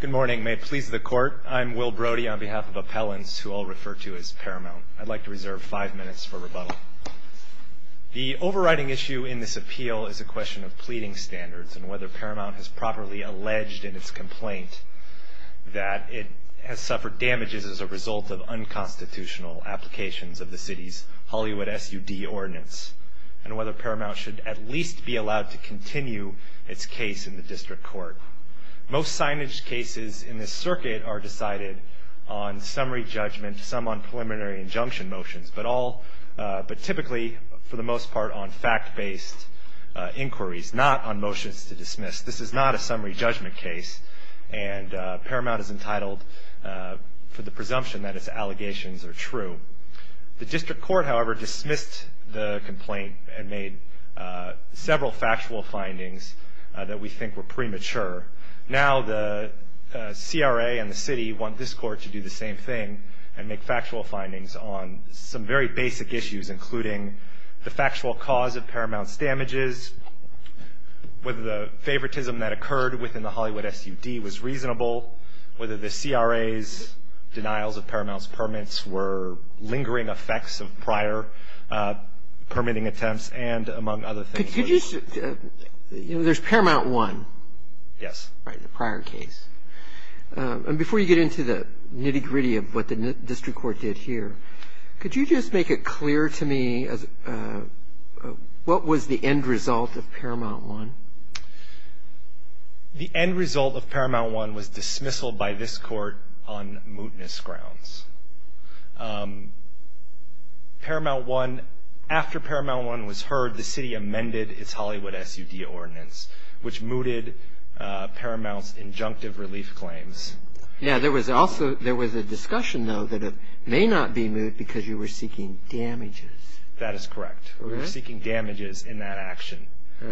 Good morning. May it please the Court, I'm Will Brody on behalf of appellants who I'll refer to as Paramount. I'd like to reserve five minutes for rebuttal. The overriding issue in this appeal is a question of pleading standards and whether Paramount has properly alleged in its complaint that it has suffered damages as a result of unconstitutional applications of the City's Hollywood SUD Ordinance and whether Paramount should at least be allowed to continue its case in the District Court. Most signage cases in this circuit are decided on summary judgment, some on preliminary injunction motions, but typically, for the most part, on fact-based inquiries, not on motions to dismiss. This is not a summary judgment case, and Paramount is entitled for the presumption that its allegations are true. The District Court, however, dismissed the complaint and made several factual findings that we think were premature. Now the CRA and the City want this Court to do the same thing and make factual findings on some very basic issues, including the factual cause of Paramount's damages, whether the favoritism that occurred within the Hollywood SUD was reasonable, whether the CRA's denials of Paramount's permits were lingering effects of prior permitting attempts, and among other things. Could you just – you know, there's Paramount 1. Yes. Right, the prior case. And before you get into the nitty-gritty of what the District Court did here, could you just make it clear to me what was the end result of Paramount 1? The end result of Paramount 1 was dismissal by this Court on mootness grounds. Paramount 1 – after Paramount 1 was heard, the City amended its Hollywood SUD ordinance, which mooted Paramount's injunctive relief claims. Yeah, there was also – there was a discussion, though, that it may not be moot because you were seeking damages. That is correct. We were seeking damages in that action. So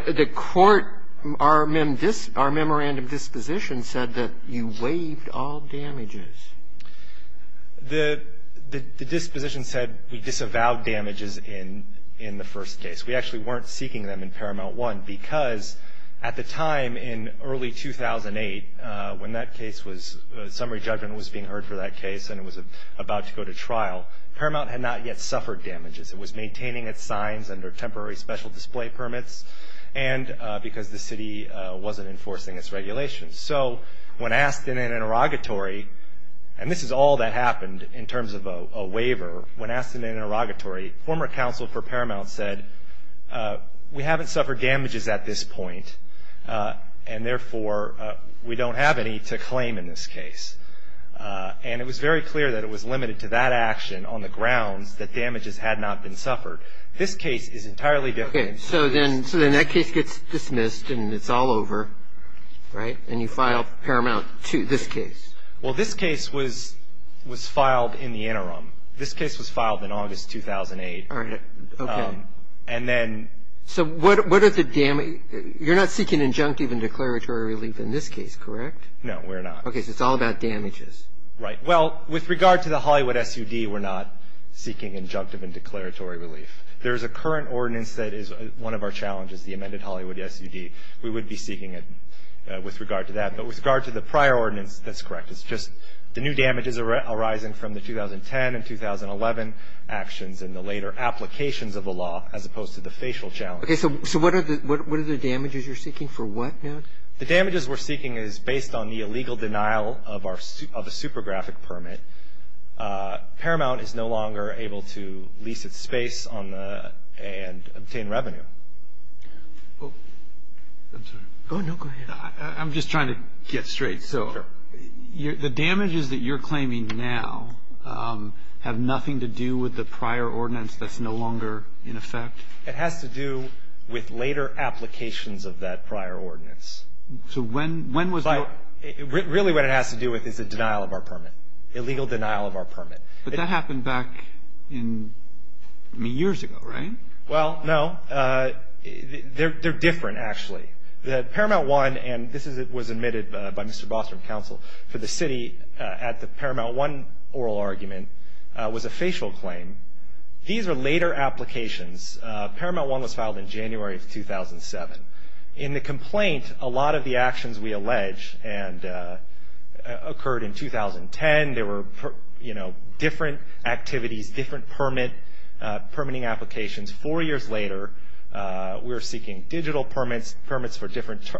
the Court – our memorandum disposition said that you waived all damages. The disposition said we disavowed damages in the first case. We actually weren't seeking them in Paramount 1 because at the time in early 2008, when that case was – summary judgment was being heard for that case and it was about to go to trial, Paramount had not yet suffered damages. It was maintaining its signs under temporary special display permits and because the City wasn't enforcing its regulations. So when asked in an interrogatory – and this is all that happened in terms of a waiver – when asked in an interrogatory, former counsel for Paramount said, we haven't suffered damages at this point and, therefore, we don't have any to claim in this case. And it was very clear that it was limited to that action on the grounds that damages had not been suffered. This case is entirely different. Okay. So then that case gets dismissed and it's all over, right, and you file Paramount 2, this case. Well, this case was filed in the interim. This case was filed in August 2008. All right. Okay. And then – So what are the – you're not seeking injunctive and declaratory relief in this case, correct? No, we're not. Okay. So it's all about damages. Right. Well, with regard to the Hollywood SUD, we're not seeking injunctive and declaratory relief. There is a current ordinance that is one of our challenges, the amended Hollywood SUD. We would be seeking it with regard to that. But with regard to the prior ordinance, that's correct. It's just the new damages arising from the 2010 and 2011 actions and the later applications of the law as opposed to the facial challenges. Okay. So what are the damages you're seeking for what now? The damages we're seeking is based on the illegal denial of a super graphic permit. Paramount is no longer able to lease its space and obtain revenue. I'm sorry. Oh, no, go ahead. I'm just trying to get straight. So the damages that you're claiming now have nothing to do with the prior ordinance that's no longer in effect? It has to do with later applications of that prior ordinance. So when was your ---- Really what it has to do with is the denial of our permit, illegal denial of our permit. But that happened back in, I mean, years ago, right? Well, no. They're different, actually. The Paramount One, and this was admitted by Mr. Bostrom, counsel, for the city at the Paramount One oral argument was a facial claim. These are later applications. Paramount One was filed in January of 2007. In the complaint, a lot of the actions we allege occurred in 2010. There were, you know, different activities, different permitting applications. Four years later, we're seeking digital permits, permits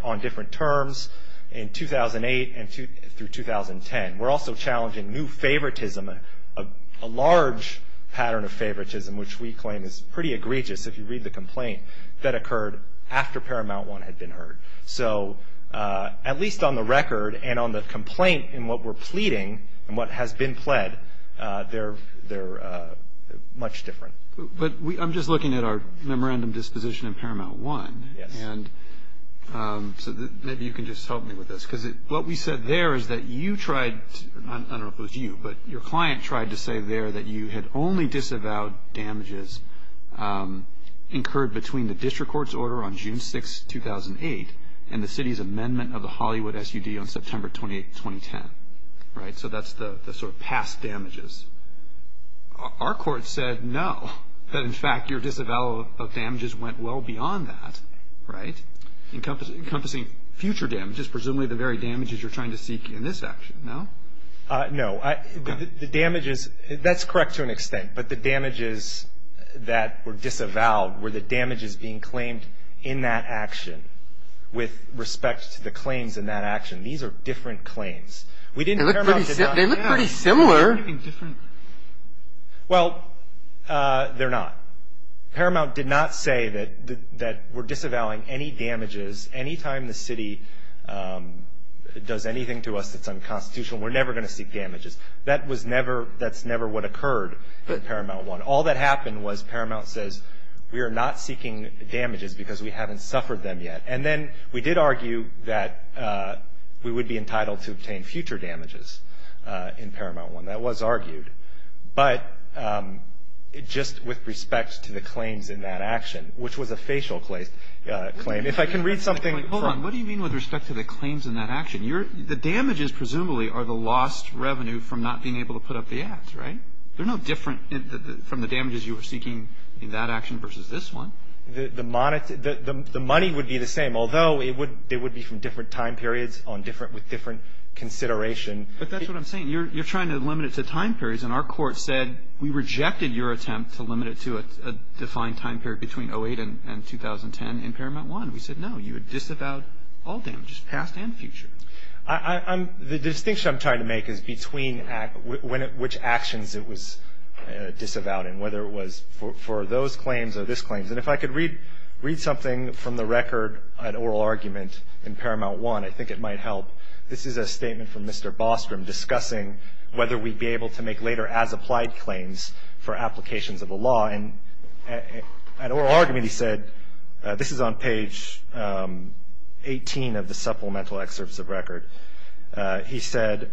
on different terms in 2008 through 2010. We're also challenging new favoritism, a large pattern of favoritism, which we claim is pretty egregious if you read the complaint, that occurred after Paramount One had been heard. So at least on the record and on the complaint and what we're pleading and what has been pled, they're much different. But I'm just looking at our memorandum disposition in Paramount One. Yes. And so maybe you can just help me with this. Because what we said there is that you tried, I don't know if it was you, but your client tried to say there that you had only disavowed damages incurred between the district court's order on June 6, 2008, and the city's amendment of the Hollywood SUD on September 28, 2010. Right? So that's the sort of past damages. Our court said no, that in fact your disavowal of damages went well beyond that. Right? Encompassing future damages, presumably the very damages you're trying to seek in this action, no? No. The damages, that's correct to an extent, but the damages that were disavowed were the damages being claimed in that action with respect to the claims in that action. These are different claims. They look pretty similar. Well, they're not. Paramount did not say that we're disavowing any damages. Anytime the city does anything to us that's unconstitutional, we're never going to seek damages. That's never what occurred in Paramount One. All that happened was Paramount says we are not seeking damages because we haven't suffered them yet. And then we did argue that we would be entitled to obtain future damages in Paramount One. That was argued. But just with respect to the claims in that action, which was a facial claim. If I can read something. Hold on. What do you mean with respect to the claims in that action? The damages presumably are the lost revenue from not being able to put up the ads, right? They're no different from the damages you were seeking in that action versus this one. The money would be the same, although it would be from different time periods with different consideration. But that's what I'm saying. You're trying to limit it to time periods. And our court said we rejected your attempt to limit it to a defined time period between 08 and 2010 in Paramount One. We said no, you would disavow all damages, past and future. The distinction I'm trying to make is between which actions it was disavowed in, whether it was for those claims or this claim. And if I could read something from the record, an oral argument in Paramount One, I think it might help. This is a statement from Mr. Bostrom discussing whether we'd be able to make later as-applied claims for applications of the law. And an oral argument, he said, this is on page 18 of the supplemental excerpts of record. He said,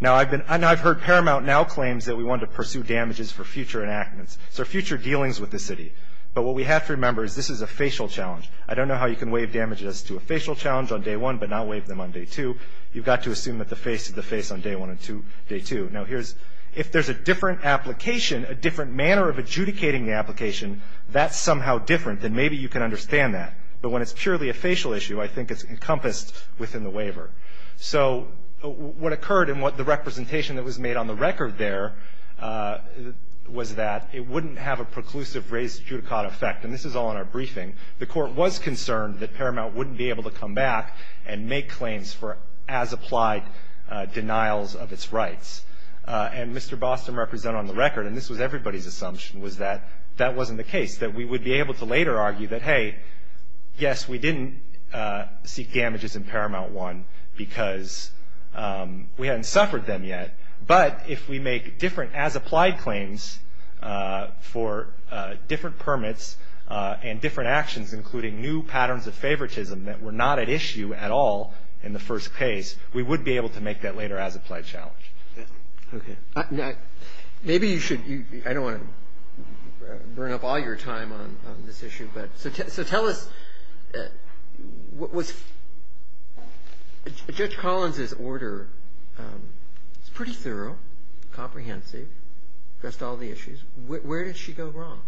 now I've heard Paramount now claims that we wanted to pursue damages for future enactments, so future dealings with the city. But what we have to remember is this is a facial challenge. I don't know how you can waive damages to a facial challenge on day one, but not waive them on day two. You've got to assume that the face is the face on day one and day two. Now, here's – if there's a different application, a different manner of adjudicating the application, that's somehow different, then maybe you can understand that. But when it's purely a facial issue, I think it's encompassed within the waiver. So what occurred and what the representation that was made on the record there was that it wouldn't have a preclusive raised judicata effect. And this is all in our briefing. The Court was concerned that Paramount wouldn't be able to come back and make claims for as-applied denials of its rights. And Mr. Boston represented on the record, and this was everybody's assumption, was that that wasn't the case, that we would be able to later argue that, hey, yes, we didn't seek damages in Paramount 1 because we hadn't suffered them yet. But if we make different as-applied claims for different permits and different actions, including new patterns of favoritism that were not at issue at all in the first case, we would be able to make that later as-applied challenge. Okay. Maybe you should – I don't want to burn up all your time on this issue, but so tell us what was – Judge Collins' order is pretty thorough, comprehensive, addressed all the issues. Where did she go wrong?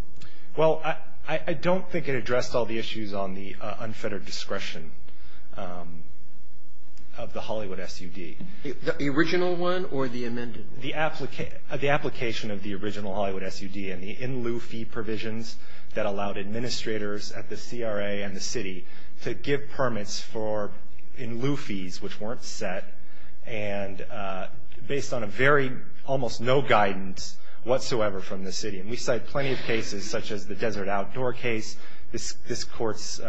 Well, I don't think it addressed all the issues on the unfettered discretion of the Hollywood SUD. The original one or the amended one? The application of the original Hollywood SUD and the in-lieu fee provisions that allowed administrators at the CRA and the city to give permits for in-lieu fees, which weren't set and based on a very – almost no guidance whatsoever from the city. And we cite plenty of cases, such as the Desert Outdoor case, this Court's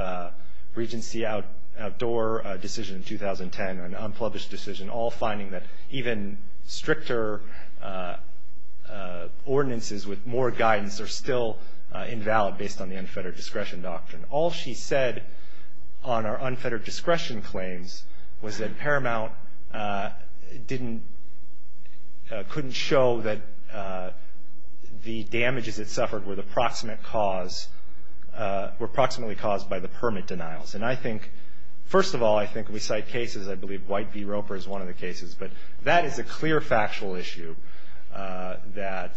Regency Outdoor decision in 2010, an unpublished decision, all finding that even stricter ordinances with more guidance are still invalid based on the unfettered discretion doctrine. All she said on our unfettered discretion claims was that Paramount didn't – were approximately caused by the permit denials. And I think – first of all, I think we cite cases. I believe White v. Roper is one of the cases. But that is a clear factual issue that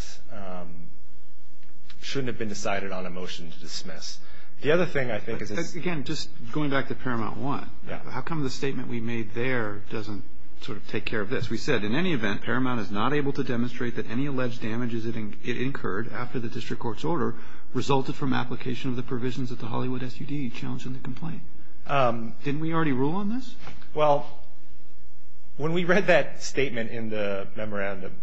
shouldn't have been decided on a motion to dismiss. The other thing I think is – Again, just going back to Paramount 1. Yeah. How come the statement we made there doesn't sort of take care of this? We said, in any event, Paramount is not able to demonstrate that any alleged damages it incurred after the district court's order resulted from application of the provisions that the Hollywood SUD challenged in the complaint. Didn't we already rule on this? Well, when we read that statement in the memorandum,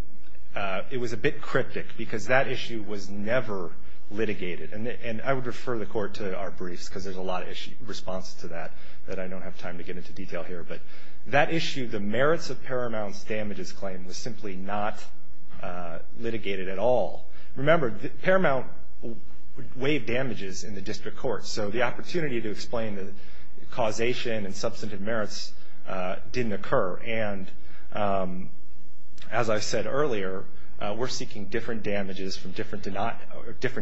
it was a bit cryptic because that issue was never litigated. And I would refer the Court to our briefs because there's a lot of response to that that I don't have time to get into detail here. But that issue, the merits of Paramount's damages claim, was simply not litigated at all. Remember, Paramount waived damages in the district court, so the opportunity to explain the causation and substantive merits didn't occur. And as I said earlier, we're seeking different damages from different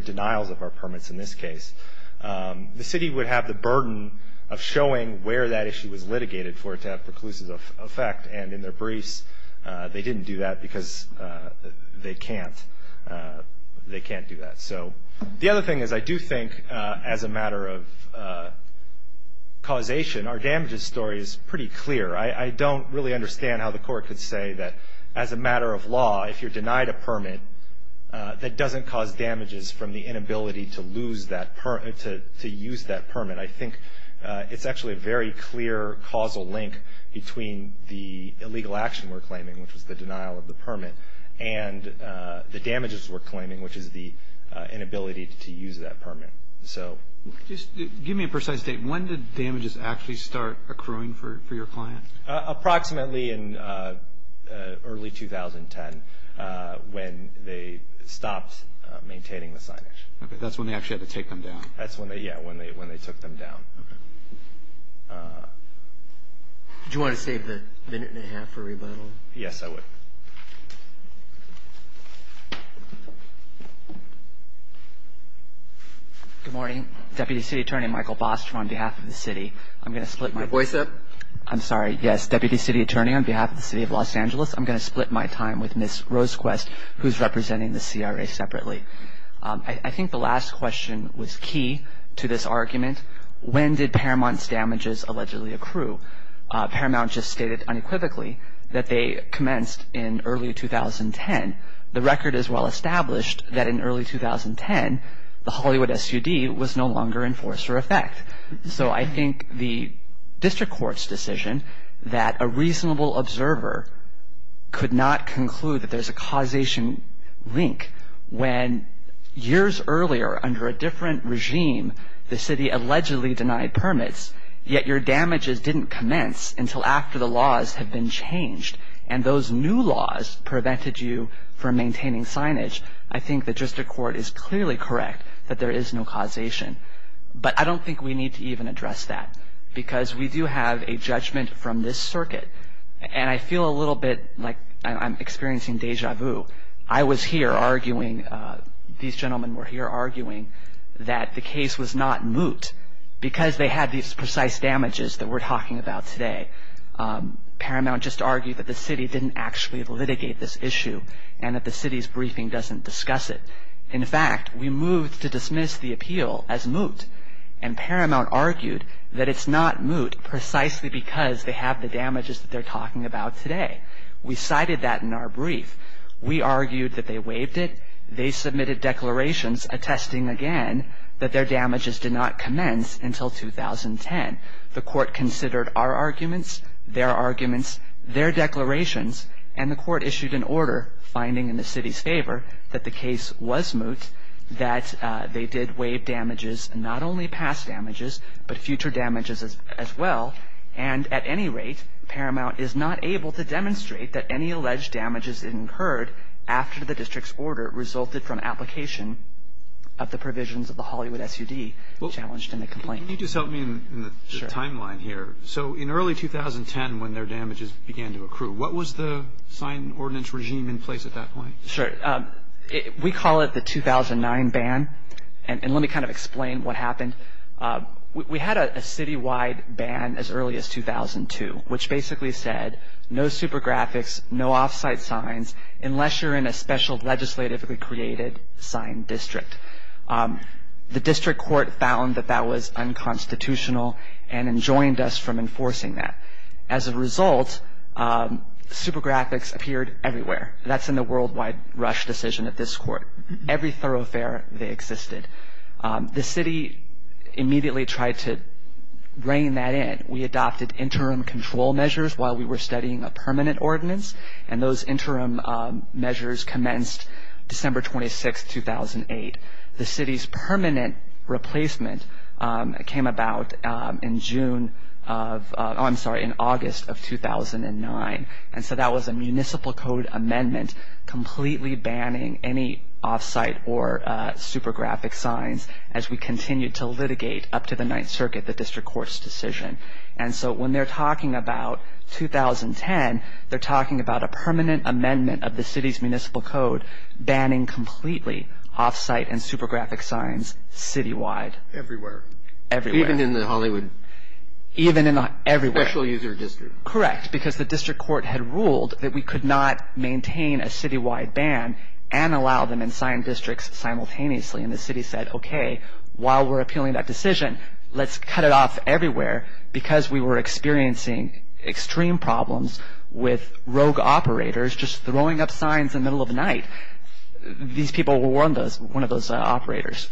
denials of our permits in this case. The city would have the burden of showing where that issue was litigated for it to have preclusive effect, and in their briefs they didn't do that because they can't do that. So the other thing is I do think as a matter of causation, our damages story is pretty clear. I don't really understand how the Court could say that as a matter of law, if you're denied a permit, that doesn't cause damages from the inability to use that permit. And I think it's actually a very clear causal link between the illegal action we're claiming, which is the denial of the permit, and the damages we're claiming, which is the inability to use that permit. Give me a precise date. When did damages actually start accruing for your client? Approximately in early 2010 when they stopped maintaining the signage. That's when they actually had to take them down. That's when they took them down. Do you want to save the minute and a half for rebuttal? Yes, I would. Good morning. Deputy City Attorney Michael Bostrom on behalf of the city. I'm going to split my time. Your voice up. I'm sorry. Yes, Deputy City Attorney on behalf of the city of Los Angeles, I'm going to split my time with Ms. Rosequest, who's representing the CRA separately. I think the last question was key to this argument. When did Paramount's damages allegedly accrue? Paramount just stated unequivocally that they commenced in early 2010. The record is well established that in early 2010, the Hollywood SUD was no longer in force or effect. So I think the district court's decision that a reasonable observer could not conclude that there's a causation link when years earlier under a different regime, the city allegedly denied permits, yet your damages didn't commence until after the laws had been changed and those new laws prevented you from maintaining signage, I think the district court is clearly correct that there is no causation. But I don't think we need to even address that because we do have a judgment from this circuit. And I feel a little bit like I'm experiencing deja vu. I was here arguing, these gentlemen were here arguing that the case was not moot because they had these precise damages that we're talking about today. Paramount just argued that the city didn't actually litigate this issue and that the city's briefing doesn't discuss it. In fact, we moved to dismiss the appeal as moot, and Paramount argued that it's not moot precisely because they have the damages that they're talking about today. We cited that in our brief. We argued that they waived it. They submitted declarations attesting again that their damages did not commence until 2010. The court considered our arguments, their arguments, their declarations, and the court issued an order finding in the city's favor that the case was moot, that they did waive damages, not only past damages, but future damages as well. And at any rate, Paramount is not able to demonstrate that any alleged damages incurred after the district's order resulted from application of the provisions of the Hollywood SUD challenged in the complaint. Can you just help me in the timeline here? So in early 2010 when their damages began to accrue, what was the sign ordinance regime in place at that point? Sure. We call it the 2009 ban. And let me kind of explain what happened. We had a citywide ban as early as 2002, which basically said no super graphics, no off-site signs, unless you're in a special legislatively created signed district. The district court found that that was unconstitutional and enjoined us from enforcing that. As a result, super graphics appeared everywhere. That's in the worldwide rush decision at this court. Every thoroughfare, they existed. The city immediately tried to rein that in. We adopted interim control measures while we were studying a permanent ordinance, and those interim measures commenced December 26, 2008. The city's permanent replacement came about in August of 2009. And so that was a municipal code amendment completely banning any off-site or super graphic signs as we continued to litigate up to the Ninth Circuit, the district court's decision. And so when they're talking about 2010, they're talking about a permanent amendment of the city's municipal code banning completely off-site and super graphic signs citywide. Everywhere. Everywhere. Even in the Hollywood special user district. Correct, because the district court had ruled that we could not maintain a citywide ban and allow them in signed districts simultaneously. And the city said, okay, while we're appealing that decision, let's cut it off everywhere because we were experiencing extreme problems with rogue operators just throwing up signs in the middle of the night. These people were one of those operators.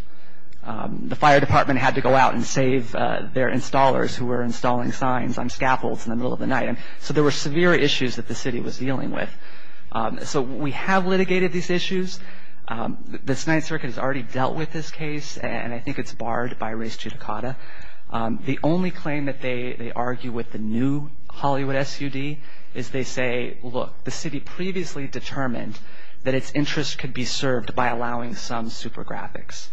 The fire department had to go out and save their installers who were installing signs on scaffolds in the middle of the night. So there were severe issues that the city was dealing with. So we have litigated these issues. The Ninth Circuit has already dealt with this case, and I think it's barred by race judicata. The only claim that they argue with the new Hollywood SUD is they say, look, the city previously determined that its interest could be served by allowing some super graphics.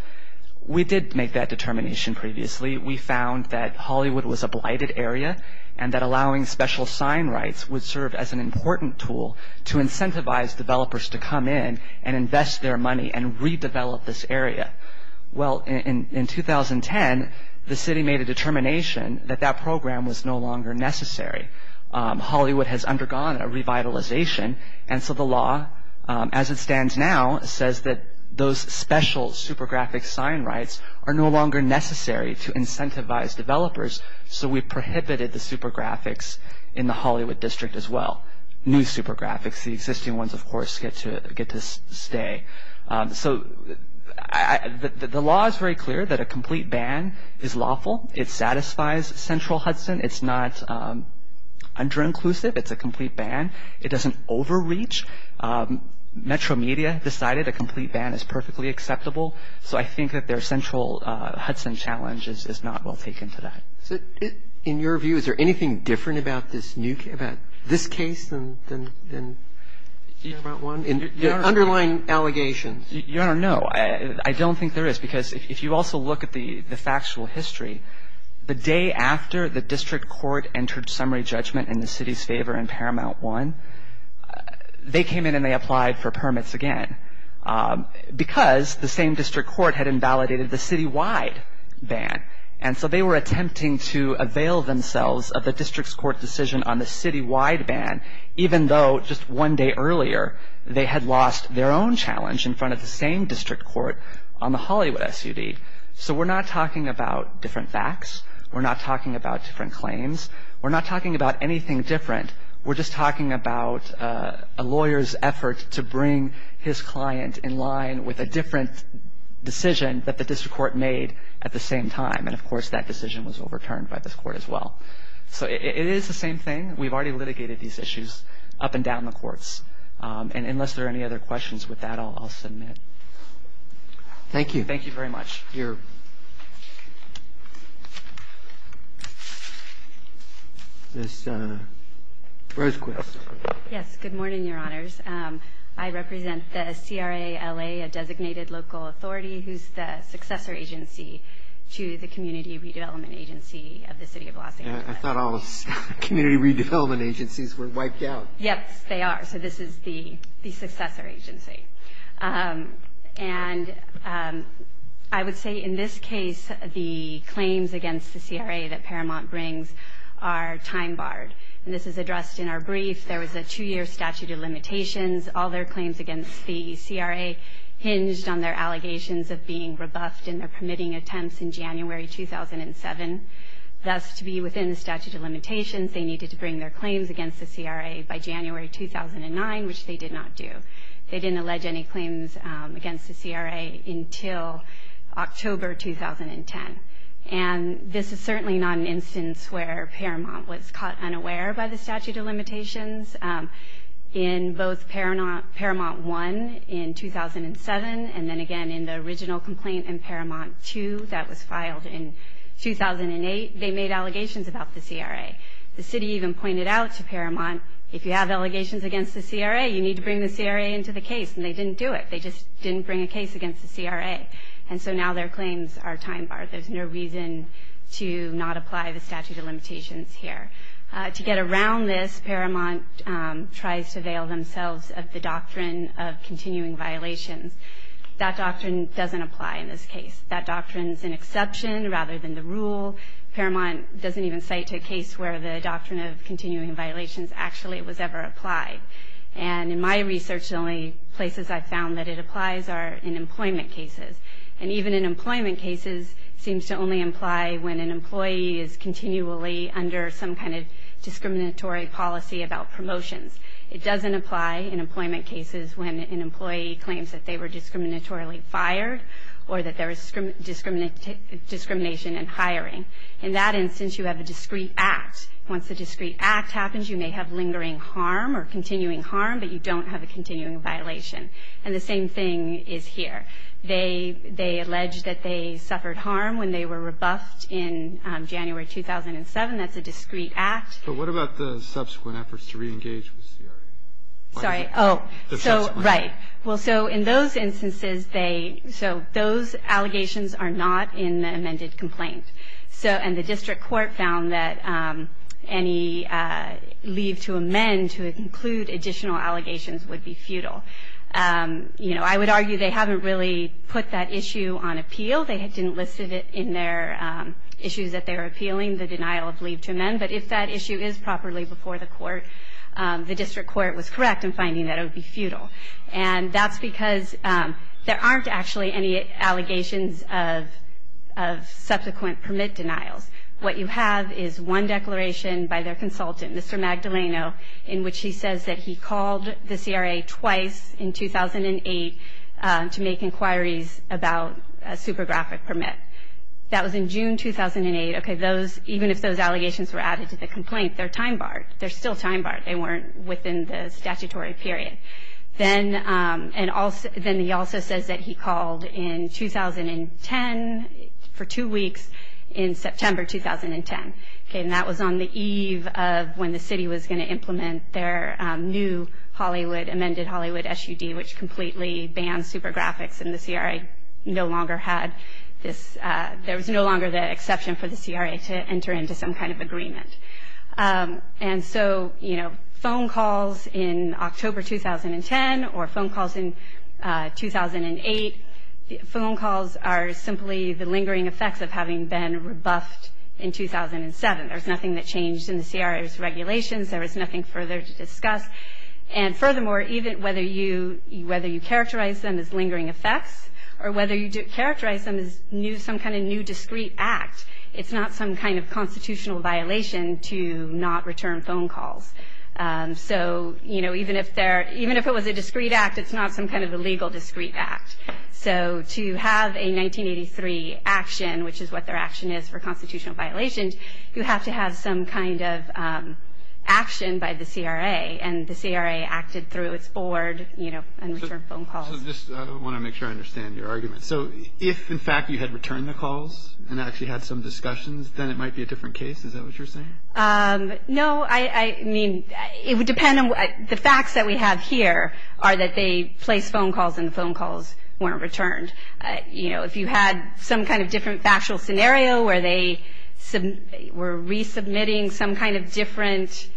We did make that determination previously. We found that Hollywood was a blighted area and that allowing special sign rights would serve as an important tool to incentivize developers to come in and invest their money and redevelop this area. Well, in 2010, the city made a determination that that program was no longer necessary. Hollywood has undergone a revitalization, and so the law, as it stands now, says that those special super graphics sign rights are no longer necessary to incentivize developers, so we prohibited the super graphics in the Hollywood district as well. New super graphics, the existing ones, of course, get to stay. So the law is very clear that a complete ban is lawful. It satisfies Central Hudson. It's not under-inclusive. It's a complete ban. It doesn't overreach. Metro Media decided a complete ban is perfectly acceptable, so I think that their Central Hudson challenge is not well taken to that. In your view, is there anything different about this case than Paramount One, the underlying allegations? Your Honor, no. I don't think there is because if you also look at the factual history, the day after the district court entered summary judgment in the city's favor in Paramount One, they came in and they applied for permits again because the same district court had invalidated the citywide ban, and so they were attempting to avail themselves of the district's court decision on the citywide ban, even though just one day earlier they had lost their own challenge in front of the same district court on the Hollywood SUD. So we're not talking about different facts. We're not talking about different claims. We're not talking about anything different. We're just talking about a lawyer's effort to bring his client in line with a different decision that the district court made at the same time, and, of course, that decision was overturned by this court as well. So it is the same thing. We've already litigated these issues up and down the courts, and unless there are any other questions with that, I'll submit. Thank you. Thank you very much. Here. Ms. Rosequist. Yes, good morning, Your Honors. I represent the CRALA, a designated local authority, who's the successor agency to the Community Redevelopment Agency of the City of Los Angeles. I thought all the community redevelopment agencies were wiped out. Yes, they are. So this is the successor agency. And I would say, in this case, the claims against the CRA that Paramount brings are time-barred. And this is addressed in our brief. There was a two-year statute of limitations. All their claims against the CRA hinged on their allegations of being rebuffed in their permitting attempts in January 2007. Thus, to be within the statute of limitations, they needed to bring their claims against the CRA by January 2009, which they did not do. They didn't allege any claims against the CRA until October 2010. And this is certainly not an instance where Paramount was caught unaware by the statute of limitations. In both Paramount 1 in 2007 and then again in the original complaint in Paramount 2 that was filed in 2008, they made allegations about the CRA. The city even pointed out to Paramount, if you have allegations against the CRA, you need to bring the CRA into the case. And they didn't do it. They just didn't bring a case against the CRA. And so now their claims are time-barred. There's no reason to not apply the statute of limitations here. To get around this, Paramount tries to veil themselves of the doctrine of continuing violations. That doctrine doesn't apply in this case. That doctrine is an exception rather than the rule. Paramount doesn't even cite a case where the doctrine of continuing violations actually was ever applied. And in my research, the only places I've found that it applies are in employment cases. And even in employment cases, it seems to only imply when an employee is continually under some kind of discriminatory policy about promotions. It doesn't apply in employment cases when an employee claims that they were discriminatorily fired or that there was discrimination in hiring. In that instance, you have a discrete act. Once a discrete act happens, you may have lingering harm or continuing harm, but you don't have a continuing violation. And the same thing is here. They allege that they suffered harm when they were rebuffed in January 2007. That's a discrete act. But what about the subsequent efforts to reengage with CRA? Sorry. Oh, so right. Well, so in those instances, they – so those allegations are not in the amended complaint. So – and the district court found that any leave to amend to include additional allegations would be futile. You know, I would argue they haven't really put that issue on appeal. They didn't list it in their issues that they were appealing, the denial of leave to amend. But if that issue is properly before the court, the district court was correct in finding that it would be futile. And that's because there aren't actually any allegations of subsequent permit denials. What you have is one declaration by their consultant, Mr. Magdaleno, in which he says that he called the CRA twice in 2008 to make inquiries about a super graphic permit. That was in June 2008. Okay, those – even if those allegations were added to the complaint, they're time barred. They're still time barred. They weren't within the statutory period. Then – and also – then he also says that he called in 2010 for two weeks in September 2010. Okay, and that was on the eve of when the city was going to implement their new Hollywood – amended Hollywood SUD, which completely banned super graphics, and the CRA no longer had this – there was no longer the exception for the CRA to enter into some kind of agreement. And so, you know, phone calls in October 2010 or phone calls in 2008, phone calls are simply the lingering effects of having been rebuffed in 2007. There was nothing that changed in the CRA's regulations. There was nothing further to discuss. And furthermore, even whether you – whether you characterize them as lingering effects or whether you characterize them as some kind of new discrete act, it's not some kind of constitutional violation to not return phone calls. So, you know, even if there – even if it was a discrete act, it's not some kind of illegal discrete act. So to have a 1983 action, which is what their action is for constitutional violations, you have to have some kind of action by the CRA. And the CRA acted through its board, you know, and returned phone calls. So just – I want to make sure I understand your argument. So if, in fact, you had returned the calls and actually had some discussions, then it might be a different case. Is that what you're saying? No, I mean, it would depend on – the facts that we have here are that they placed phone calls and the phone calls weren't returned. You know, if you had some kind of different factual scenario where they were resubmitting some kind of different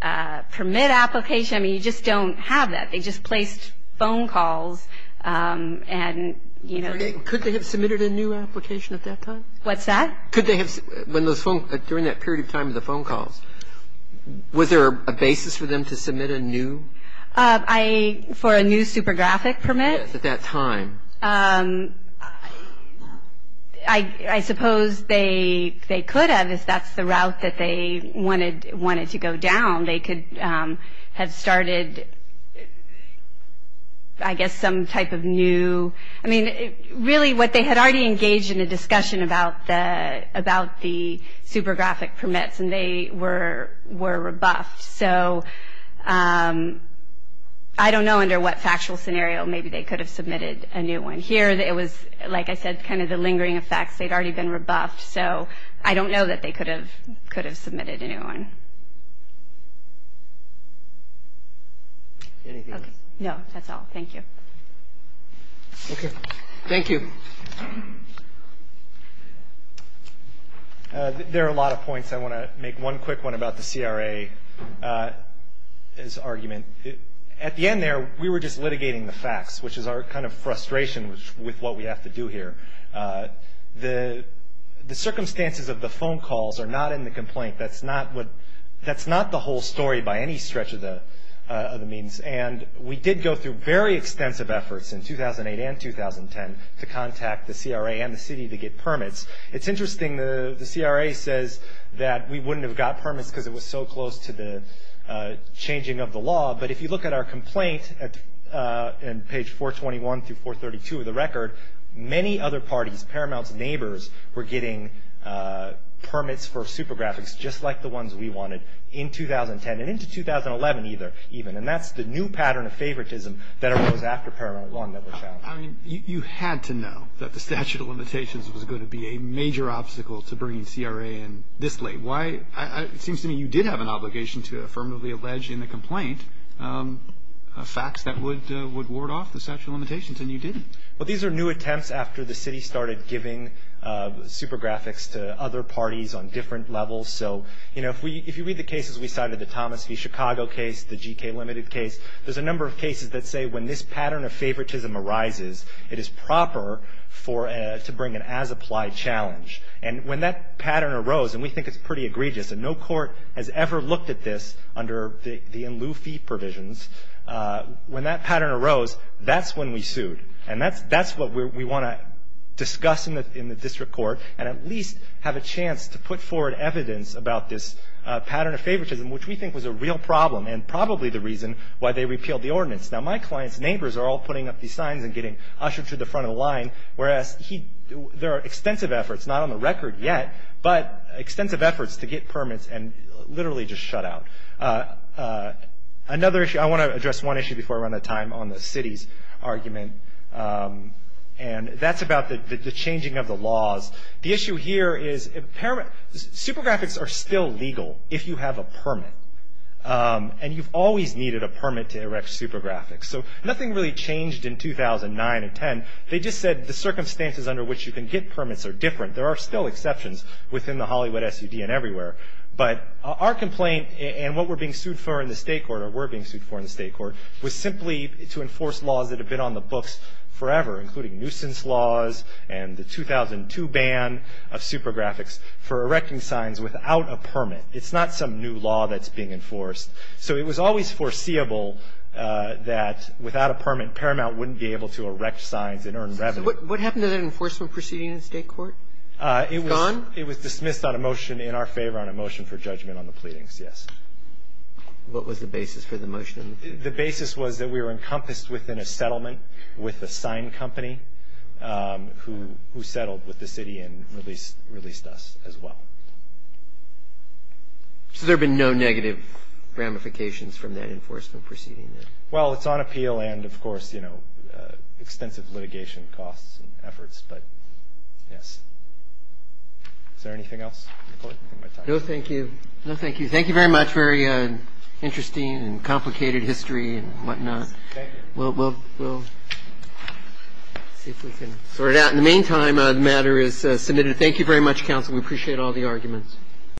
permit application, I mean, you just don't have that. They just placed phone calls and, you know – Could they have submitted a new application at that time? What's that? Could they have – when those phone – during that period of time of the phone calls, was there a basis for them to submit a new – I – for a new super graphic permit? Yes, at that time. I suppose they could have if that's the route that they wanted to go down. They could have started, I guess, some type of new – I mean, really what they had already engaged in a discussion about the super graphic permits, and they were rebuffed. So I don't know under what factual scenario maybe they could have submitted a new one. Here it was, like I said, kind of the lingering effects. They'd already been rebuffed, so I don't know that they could have submitted a new one. Anything else? No, that's all. Thank you. Okay. Thank you. There are a lot of points. I want to make one quick one about the CRA's argument. At the end there, we were just litigating the facts, which is our kind of frustration with what we have to do here. The circumstances of the phone calls are not in the complaint. That's not what – that's not the whole story by any stretch of the means. And we did go through very extensive efforts in 2008 and 2010 to contact the CRA and the city to get permits. It's interesting, the CRA says that we wouldn't have got permits because it was so close to the changing of the law, but if you look at our complaint in page 421 through 432 of the record, many other parties, Paramount's neighbors, were getting permits for super graphics just like the ones we wanted in 2010 and into 2011 even. And that's the new pattern of favoritism that arose after Paramount Law never found. Well, I mean, you had to know that the statute of limitations was going to be a major obstacle to bringing CRA in this late. Why – it seems to me you did have an obligation to affirmatively allege in the complaint facts that would ward off the statute of limitations, and you didn't. Well, these are new attempts after the city started giving super graphics to other parties on different levels. So, you know, if you read the cases we cited, the Thomas v. Chicago case, the GK Limited case, there's a number of cases that say when this pattern of favoritism arises, it is proper for – to bring an as-applied challenge. And when that pattern arose, and we think it's pretty egregious, and no court has ever looked at this under the in-lieu fee provisions, when that pattern arose, that's when we sued. And that's what we want to discuss in the district court and at least have a chance to put forward evidence about this pattern of favoritism, which we think was a real problem and probably the reason why they repealed the ordinance. Now, my clients' neighbors are all putting up these signs and getting ushered to the front of the line, whereas there are extensive efforts, not on the record yet, but extensive efforts to get permits and literally just shut out. Another issue – I want to address one issue before I run out of time on the city's argument, and that's about the changing of the laws. The issue here is super graphics are still legal if you have a permit, and you've always needed a permit to erect super graphics. So nothing really changed in 2009 and 2010. They just said the circumstances under which you can get permits are different. There are still exceptions within the Hollywood SUD and everywhere. But our complaint and what we're being sued for in the state court, or we're being sued for in the state court, was simply to enforce laws that have been on the books forever, including nuisance laws and the 2002 ban of super graphics for erecting signs without a permit. It's not some new law that's being enforced. So it was always foreseeable that without a permit, Paramount wouldn't be able to erect signs and earn revenue. So what happened to that enforcement proceeding in the state court? It was – Gone? It was dismissed on a motion in our favor on a motion for judgment on the pleadings, yes. What was the basis for the motion? The basis was that we were encompassed within a settlement with a sign company who settled with the city and released us as well. So there have been no negative ramifications from that enforcement proceeding then? Well, it's on appeal and, of course, extensive litigation costs and efforts, but yes. Is there anything else? No, thank you. Thank you very much. Very interesting and complicated history and whatnot. We'll see if we can sort it out. In the meantime, the matter is submitted. Thank you very much, counsel. We appreciate all the arguments.